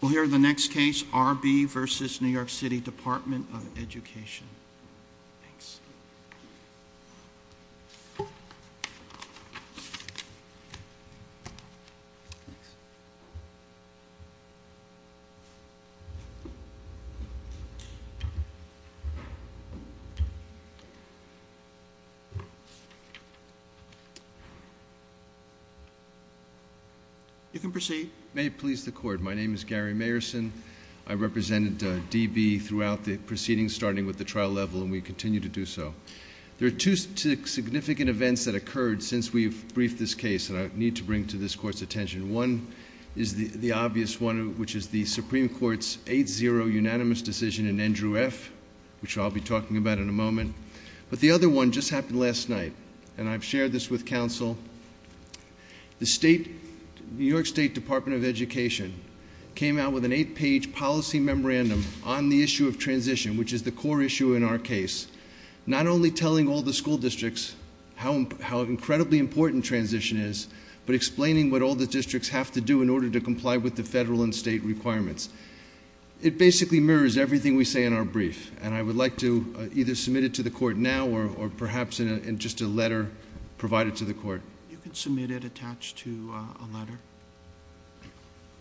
we'll hear the next case R.B. v. New York City Department of Education. You can proceed. May it please the court, my name is Gary Mayerson. I represented D.B. throughout the proceedings starting with the trial level and we continue to do so. There are two significant events that occurred since we've briefed this case that I need to bring to this court's attention. One is the obvious one, which is the Supreme Court's 8-0 unanimous decision in Andrew F., which I'll be talking about in a moment, but the other one just happened last night and I've shared this with counsel. The New York State Department of Education came out with an eight-page policy memorandum on the issue of transition, which is the core issue in our case, not only telling all the school districts how incredibly important transition is, but explaining what all the districts have to do in order to comply with the federal and state requirements. It basically mirrors everything we say in our brief and I would like to either submit it to the court now or perhaps in just a letter provided to the court. You can submit it attached to a letter.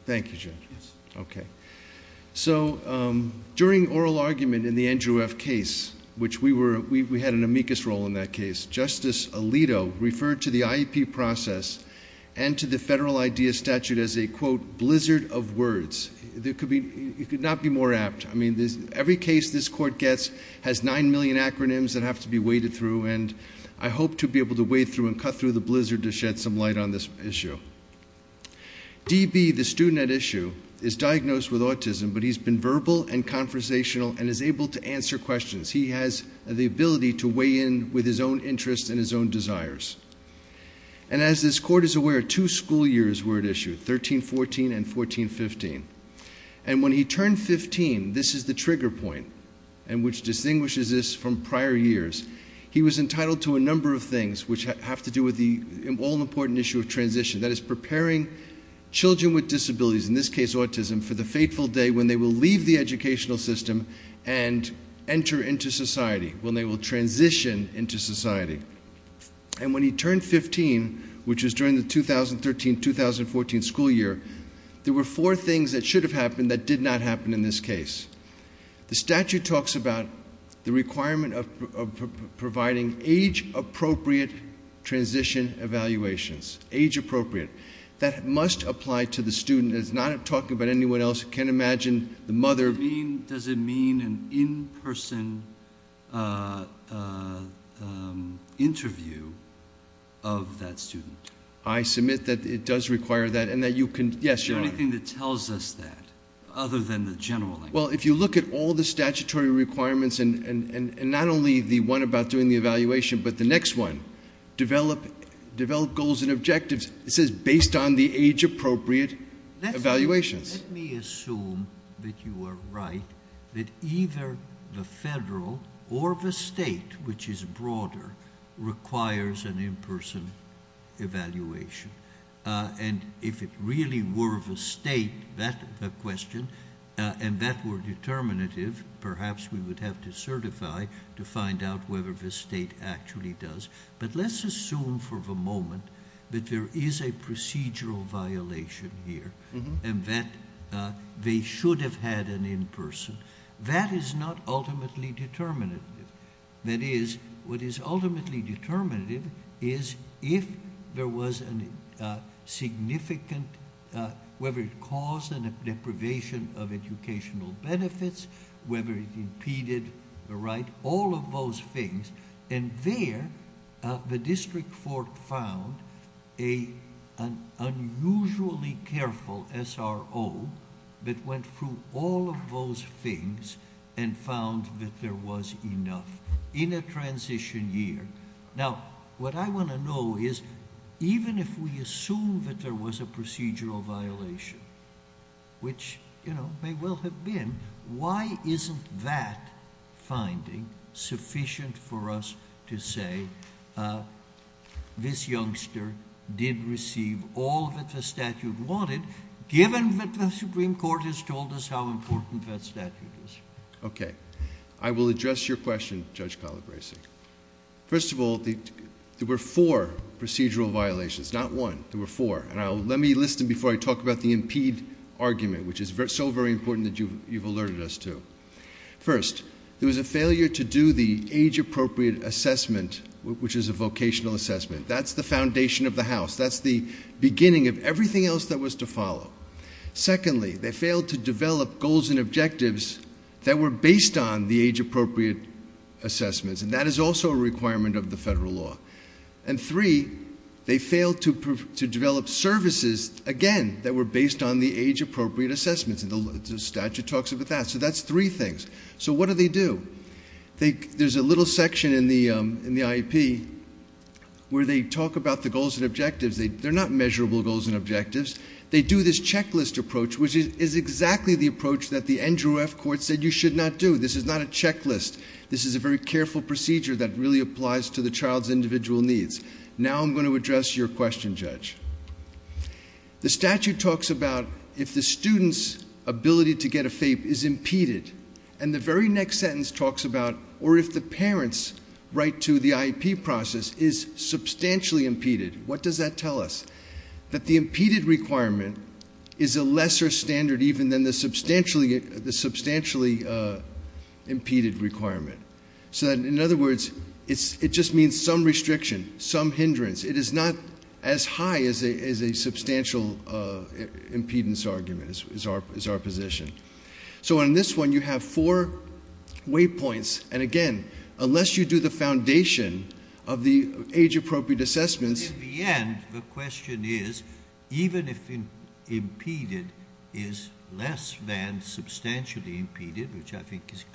Thank you, Judge. Yes. Okay. During oral argument in the Andrew F. case, which we had an amicus role in that case, Justice Alito referred to the IEP process and to the federal IDEA statute as a, quote, blizzard of words. It could not be more apt. Every case this court gets has nine million acronyms that have to be waded through and I hope to be able to wade through and cut through the blizzard to shed some light on this issue. DB, the student at issue, is diagnosed with autism, but he's been verbal and conversational and is able to answer questions. He has the ability to weigh in with his own interests and his own desires. As this court is aware, two school years were at issue, 13-14 and 14-15. And when he turned 15, this is the trigger point and which distinguishes this from prior years. He was entitled to a number of things which have to do with the all-important issue of transition, that is, preparing children with disabilities, in this case autism, for the fateful day when they will leave the educational system and enter into society, when they will transition into society. And when he turned 15, which was during the 2013-2014 school year, there were four things that should have happened that did not happen in this case. The statute talks about the requirement of providing age-appropriate transition evaluations, age-appropriate. That must apply to the student. It's not talking about anyone else. I can't imagine the mother... Does it mean an in-person interview of that student? I submit that it does require that and that you can... Yes, Your Honor. Is there anything that tells us that, other than the general language? Well, if you look at all the statutory requirements and not only the one about doing the evaluation, but the next one, develop goals and objectives, it says based on the age-appropriate evaluations. Let me assume that you are right, that either the federal or the state, which is broader, requires an in-person evaluation. And if it really were the state, that's the question, and that were determinative, perhaps we would have to certify to find out whether the state actually does. But let's assume for the moment that there is a procedural violation here and that they should have had an in-person. That is not ultimately determinative. That is, what is ultimately determinative is if there was a significant, whether it caused a deprivation of educational benefits, whether it impeded the right, all of those things, and there the district court found an unusually careful SRO that went through all of those things and found that there was enough in a transition year. Now, what I want to know is, even if we assume that there was a procedural violation, which sufficient for us to say this youngster did receive all that the statute wanted, given that the Supreme Court has told us how important that statute is? Okay. I will address your question, Judge Calabresi. First of all, there were four procedural violations, not one, there were four, and let me listen before I talk about the impede argument, which is so very important that you've alerted us to. First, there was a failure to do the age-appropriate assessment, which is a vocational assessment. That's the foundation of the House. That's the beginning of everything else that was to follow. Secondly, they failed to develop goals and objectives that were based on the age-appropriate assessments, and that is also a requirement of the federal law. And three, they failed to develop services, again, that were based on the age-appropriate assessments, and the statute talks about that. So that's three things. So what do they do? There's a little section in the IEP where they talk about the goals and objectives. They're not measurable goals and objectives. They do this checklist approach, which is exactly the approach that the Andrew F. Court said you should not do. This is not a checklist. This is a very careful procedure that really applies to the child's individual needs. Now I'm going to address your question, Judge. The statute talks about if the student's ability to get a FAPE is impeded, and the very next sentence talks about, or if the parent's right to the IEP process is substantially impeded. What does that tell us? That the impeded requirement is a lesser standard even than the substantially impeded requirement. So in other words, it just means some restriction, some hindrance. It is not as high as a substantial impedance argument is our position. So on this one, you have four waypoints, and again, unless you do the foundation of the age-appropriate assessments. In the end, the question is, even if impeded is less than substantially impeded, which is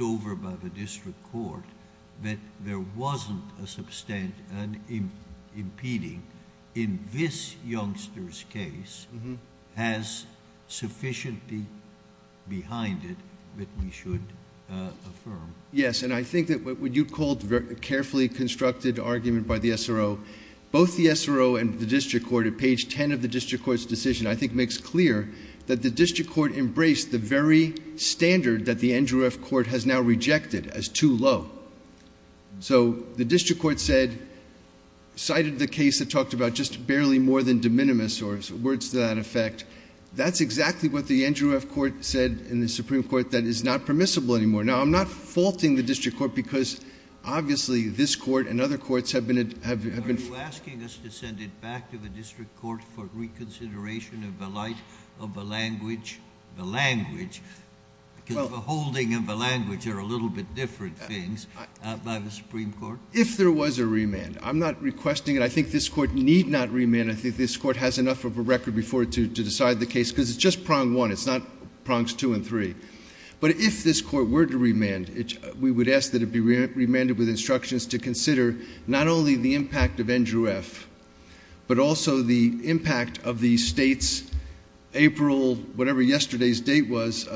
over by the district court, that there wasn't a substant, an impeding in this youngster's case has sufficiently behind it that we should affirm. Yes, and I think that what you called a carefully constructed argument by the SRO, both the SRO and the district court at page 10 of the district court's decision, I think makes clear that the district court embraced the very standard that the NJRF court has now rejected as too low. So the district court said, cited the case that talked about just barely more than de minimis or words to that effect. That's exactly what the NJRF court said in the Supreme Court that is not permissible anymore. Now, I'm not faulting the district court because obviously this court and other courts have been... The language, because the holding of the language are a little bit different things by the Supreme Court. If there was a remand, I'm not requesting it. I think this court need not remand. I think this court has enough of a record before it to decide the case because it's just prong one. It's not prongs two and three. But if this court were to remand, we would ask that it be remanded with instructions to consider not only the impact of NJRF, but also the impact of the state's April, whatever yesterday's date was,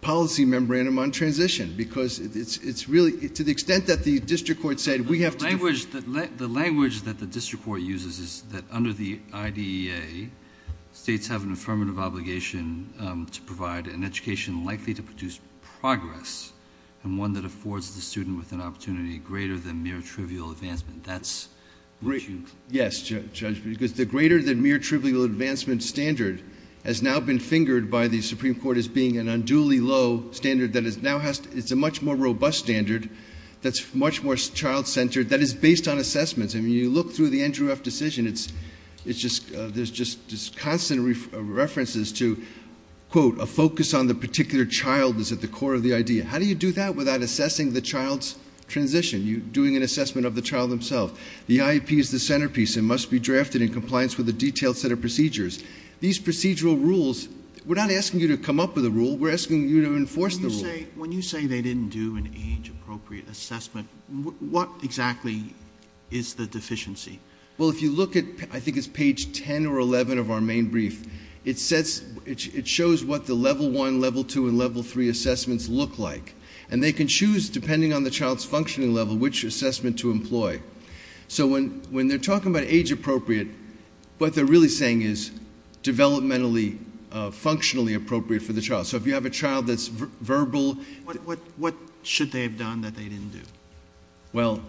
policy memorandum on transition because it's really... To the extent that the district court said, we have to... The language that the district court uses is that under the IDEA, states have an affirmative obligation to provide an education likely to produce progress and one that affords the greater than mere trivial advancement. That's... Yes, Judge, because the greater than mere trivial advancement standard has now been fingered by the Supreme Court as being an unduly low standard that is now... It's a much more robust standard that's much more child-centered that is based on assessments. You look through the NJRF decision, it's just... There's just constant references to quote, a focus on the particular child is at the core of the IDEA. How do you do that without assessing the child's transition? You're doing an assessment of the child themselves. The IEP is the centerpiece and must be drafted in compliance with a detailed set of procedures. These procedural rules, we're not asking you to come up with a rule, we're asking you to enforce the rule. When you say they didn't do an age-appropriate assessment, what exactly is the deficiency? Well, if you look at, I think it's page 10 or 11 of our main brief, it shows what the level 1, level 2, and level 3 assessments look like. And they can choose, depending on the child's functioning level, which assessment to employ. So when they're talking about age-appropriate, what they're really saying is developmentally, functionally appropriate for the child. So if you have a child that's verbal... What should they have done that they didn't do? Well,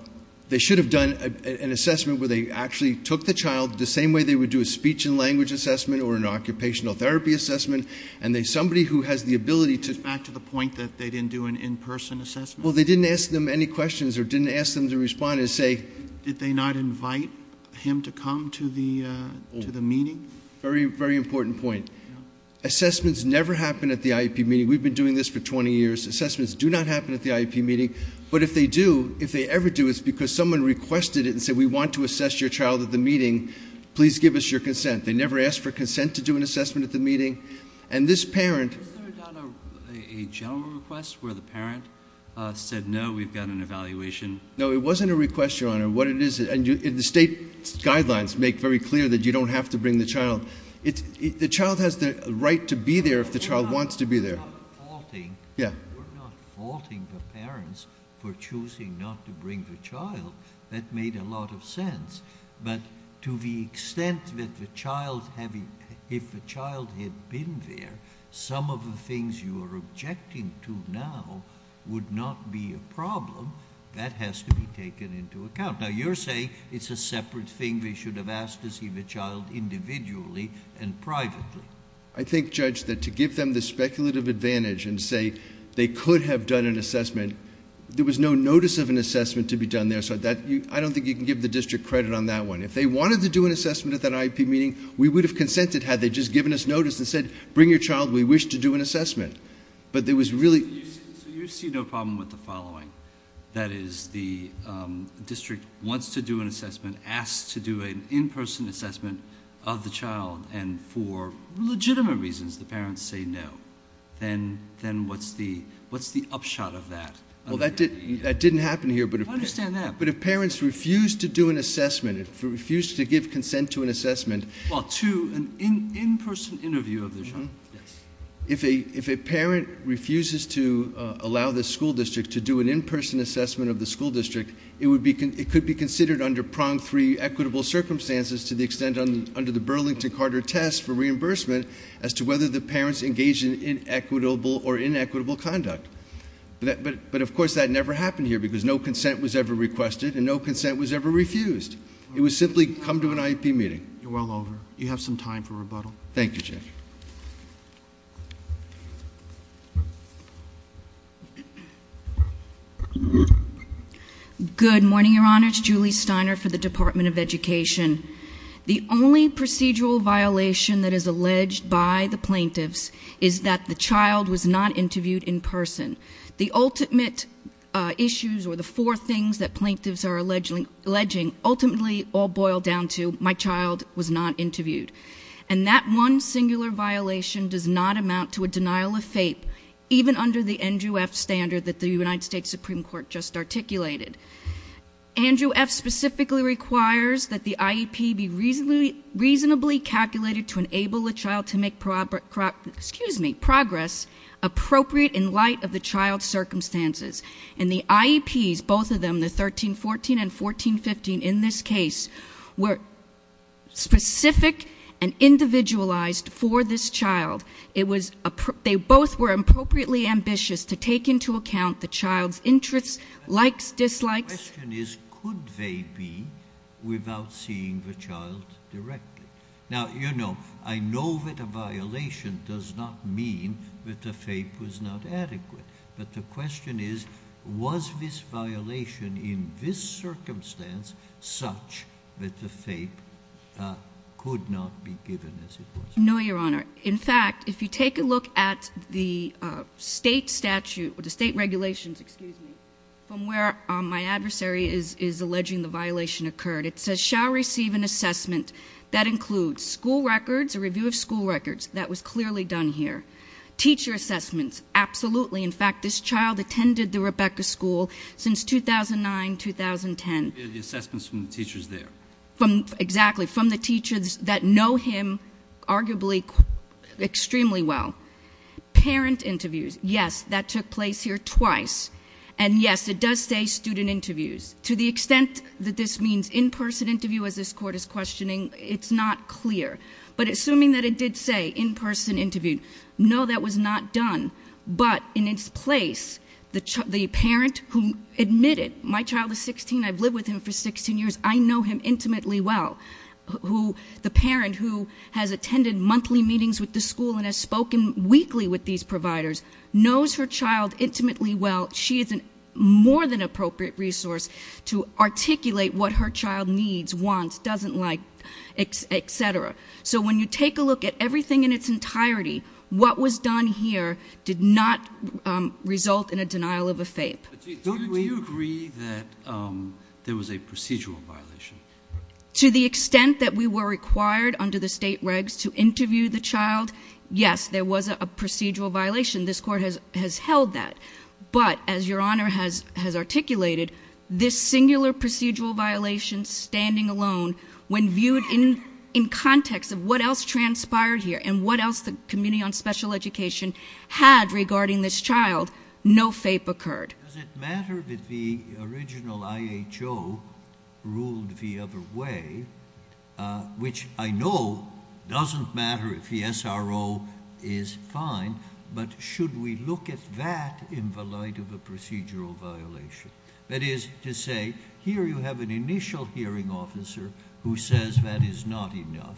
they should have done an assessment where they actually took the child the same way they would do a speech and language assessment or an occupational therapy assessment. And somebody who has the ability to... It's back to the point that they didn't do an in-person assessment. Well, they didn't ask them any questions or didn't ask them to respond and say... Did they not invite him to come to the meeting? Very, very important point. Assessments never happen at the IEP meeting. We've been doing this for 20 years. Assessments do not happen at the IEP meeting. But if they do, if they ever do, it's because someone requested it and said, we want to assess your child at the meeting. Please give us your consent. They never asked for consent to do an assessment at the meeting. And this parent... Is there not a general request where the parent said, no, we've got an evaluation? No, it wasn't a request, Your Honor. What it is, and the state guidelines make very clear that you don't have to bring the child. The child has the right to be there if the child wants to be there. We're not faulting the parents for choosing not to bring the child. That made a lot of sense. But to the extent that the child, if the child had been there, some of the things you are objecting to now would not be a problem. That has to be taken into account. Now, you're saying it's a separate thing. They should have asked to see the child individually and privately. I think, Judge, that to give them the speculative advantage and say they could have done an assessment. There was no notice of an assessment to be done there. I don't think you can give the district credit on that one. If they wanted to do an assessment at that IEP meeting, we would have consented had they just given us notice and said, bring your child, we wish to do an assessment. But there was really- So you see no problem with the following. That is, the district wants to do an assessment, asks to do an in-person assessment of the child. And for legitimate reasons, the parents say no. Then what's the upshot of that? Well, that didn't happen here, but if- I understand that. But if parents refuse to do an assessment, if they refuse to give consent to an assessment- Well, to an in-person interview of the child, yes. If a parent refuses to allow the school district to do an in-person assessment of the school district, it could be considered under prong three equitable circumstances to the extent under the Burlington-Carter test for reimbursement as to whether the parents engaged in inequitable or inequitable conduct. But of course, that never happened here, because no consent was ever requested, and no consent was ever refused. It was simply, come to an IEP meeting. You're well over. You have some time for rebuttal. Thank you, Chair. Good morning, your honors. Julie Steiner for the Department of Education. The only procedural violation that is alleged by the plaintiffs is that the child was not interviewed in person. The ultimate issues or the four things that plaintiffs are alleging ultimately all boil down to my child was not interviewed. And that one singular violation does not amount to a denial of FAPE, even under the Andrew F standard that the United States Supreme Court just articulated. Andrew F specifically requires that the IEP be reasonably calculated to enable a child to make progress appropriate in light of the child's circumstances. And the IEPs, both of them, the 1314 and 1415 in this case, were specific and individualized for this child. It was, they both were appropriately ambitious to take into account the child's interests, likes, dislikes. The question is, could they be without seeing the child directly? Now, you know, I know that a violation does not mean that the FAPE was not adequate. But the question is, was this violation in this circumstance such that the FAPE could not be given as it was? No, your honor. In fact, if you take a look at the state statute, or the state regulations, excuse me, from where my adversary is alleging the violation occurred, it says shall receive an assessment that includes school records, a review of school records, that was clearly done here. Teacher assessments, absolutely. In fact, this child attended the Rebecca School since 2009, 2010. The assessments from the teachers there. Exactly, from the teachers that know him arguably extremely well. Parent interviews, yes, that took place here twice. And yes, it does say student interviews. To the extent that this means in-person interview as this court is questioning, it's not clear. But assuming that it did say in-person interview, no, that was not done. But in its place, the parent who admitted, my child is 16, I've lived with him for 16 years, I know him intimately well. The parent who has attended monthly meetings with the school and has spoken weekly with these providers knows her child intimately well. She is a more than appropriate resource to articulate what her child needs, wants, doesn't like, etc. So when you take a look at everything in its entirety, what was done here did not result in a denial of a FAPE. Do you agree that there was a procedural violation? To the extent that we were required under the state regs to interview the child, yes, there was a procedural violation. This court has held that. But as your honor has articulated, this singular procedural violation standing alone when viewed in context of what else transpired here and what else the committee on special education had regarding this child, no FAPE occurred. Does it matter that the original IHO ruled the other way, which I know doesn't matter if the SRO is fine, but should we look at that in the light of a procedural violation? That is to say, here you have an initial hearing officer who says that is not enough.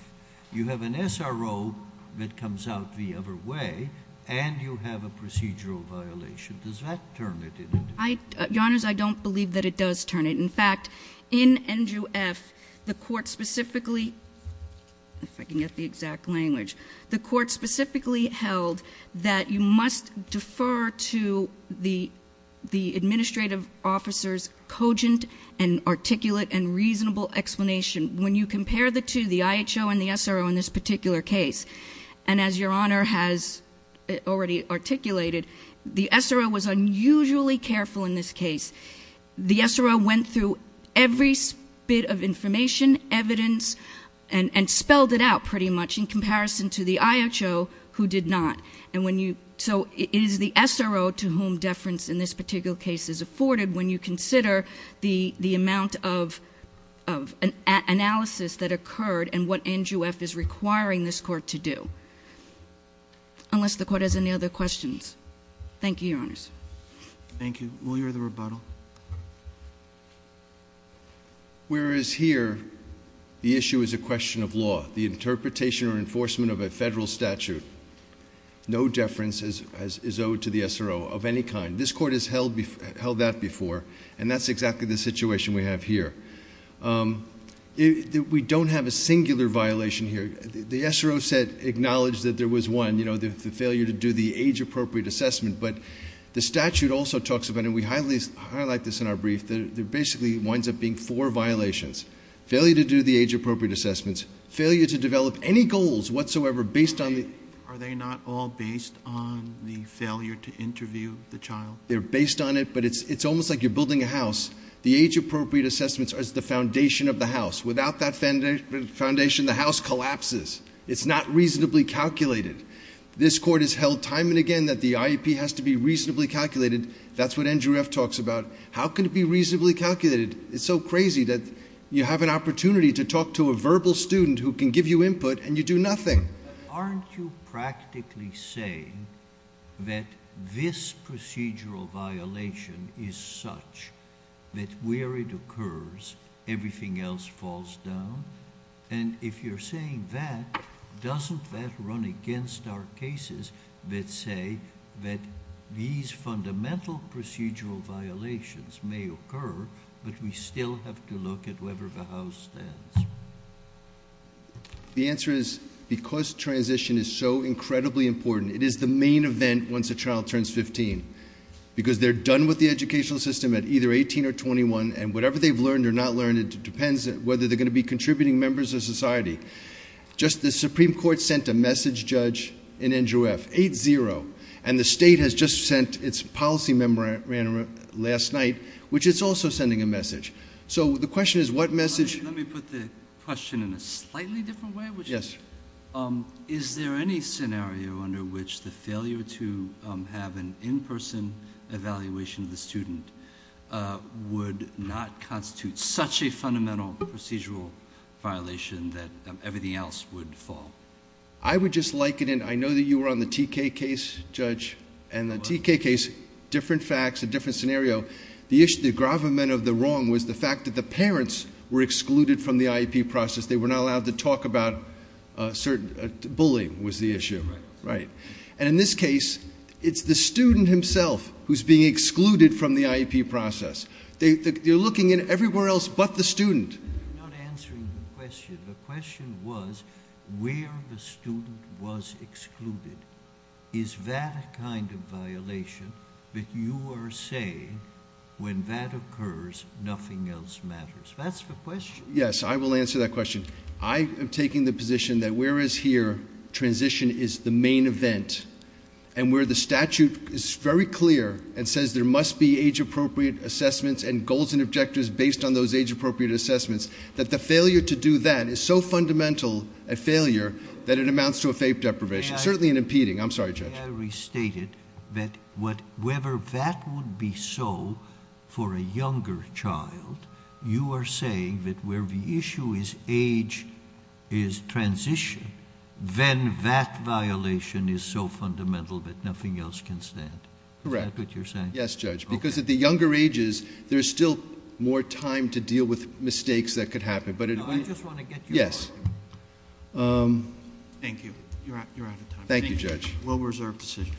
You have an SRO that comes out the other way, and you have a procedural violation. Does that turn it into? Your honors, I don't believe that it does turn it. In fact, in NJUF, the court specifically, if I can get the exact language, the court specifically held that you must defer to the administrative officer's cogent and articulate and reasonable explanation. When you compare the two, the IHO and the SRO in this particular case, and as your honor has already articulated, the SRO was unusually careful in this case. The SRO went through every bit of information, evidence, and to the IHO, who did not, and so it is the SRO to whom deference in this particular case is afforded when you consider the amount of analysis that occurred and what NJUF is requiring this court to do, unless the court has any other questions. Thank you, your honors. Thank you. Will you hear the rebuttal? Whereas here, the issue is a question of law. The interpretation or enforcement of a federal statute. No deference is owed to the SRO of any kind. This court has held that before, and that's exactly the situation we have here. We don't have a singular violation here. The SRO said, acknowledged that there was one, the failure to do the age appropriate assessment. But the statute also talks about, and we highlight this in our brief, that it basically winds up being four violations. Failure to do the age appropriate assessments, failure to develop any goals whatsoever based on the- Are they not all based on the failure to interview the child? They're based on it, but it's almost like you're building a house. The age appropriate assessments are the foundation of the house. Without that foundation, the house collapses. It's not reasonably calculated. This court has held time and again that the IEP has to be reasonably calculated. That's what NJUF talks about. How can it be reasonably calculated? It's so crazy that you have an opportunity to talk to a verbal student who can give you input and you do nothing. Aren't you practically saying that this procedural violation is such that where it occurs, everything else falls down? And if you're saying that, doesn't that run against our cases that say that these fundamental procedural violations may occur, but we still have to look at wherever the house stands? The answer is, because transition is so incredibly important, it is the main event once a child turns 15. Because they're done with the educational system at either 18 or 21, and whatever they've learned or not learned, it depends on whether they're going to be contributing members of society. Just the Supreme Court sent a message judge in NJUF, 8-0. And the state has just sent its policy member last night, which is also sending a message. So the question is, what message- Let me put the question in a slightly different way. Yes. Is there any scenario under which the failure to have an in-person evaluation of the student would not constitute such a fundamental procedural violation that everything else would fall? I would just like it in, I know that you were on the TK case, judge. And the TK case, different facts, a different scenario. The issue, the gravamen of the wrong was the fact that the parents were excluded from the IEP process. They were not allowed to talk about certain, bullying was the issue. Right. And in this case, it's the student himself who's being excluded from the IEP process. You're looking at everywhere else but the student. I'm not answering the question. The question was, where the student was excluded. Is that a kind of violation that you are saying, when that occurs, nothing else matters? That's the question. Yes, I will answer that question. I am taking the position that whereas here, transition is the main event. And where the statute is very clear and says there must be age appropriate assessments and goals and objectives based on those age appropriate assessments, that the failure to do that is so fundamental a failure that it amounts to a fate deprivation, certainly an impeding. I'm sorry, Judge. May I restate it, that whether that would be so for a younger child, you are saying that where the issue is age is transition, then that violation is so fundamental that nothing else can stand. Correct. Is that what you're saying? Yes, Judge. Because at the younger ages, there's still more time to deal with mistakes that could happen. But it- I just want to get you- Yes. Thank you. You're out of time. Thank you, Judge. Low reserve decision.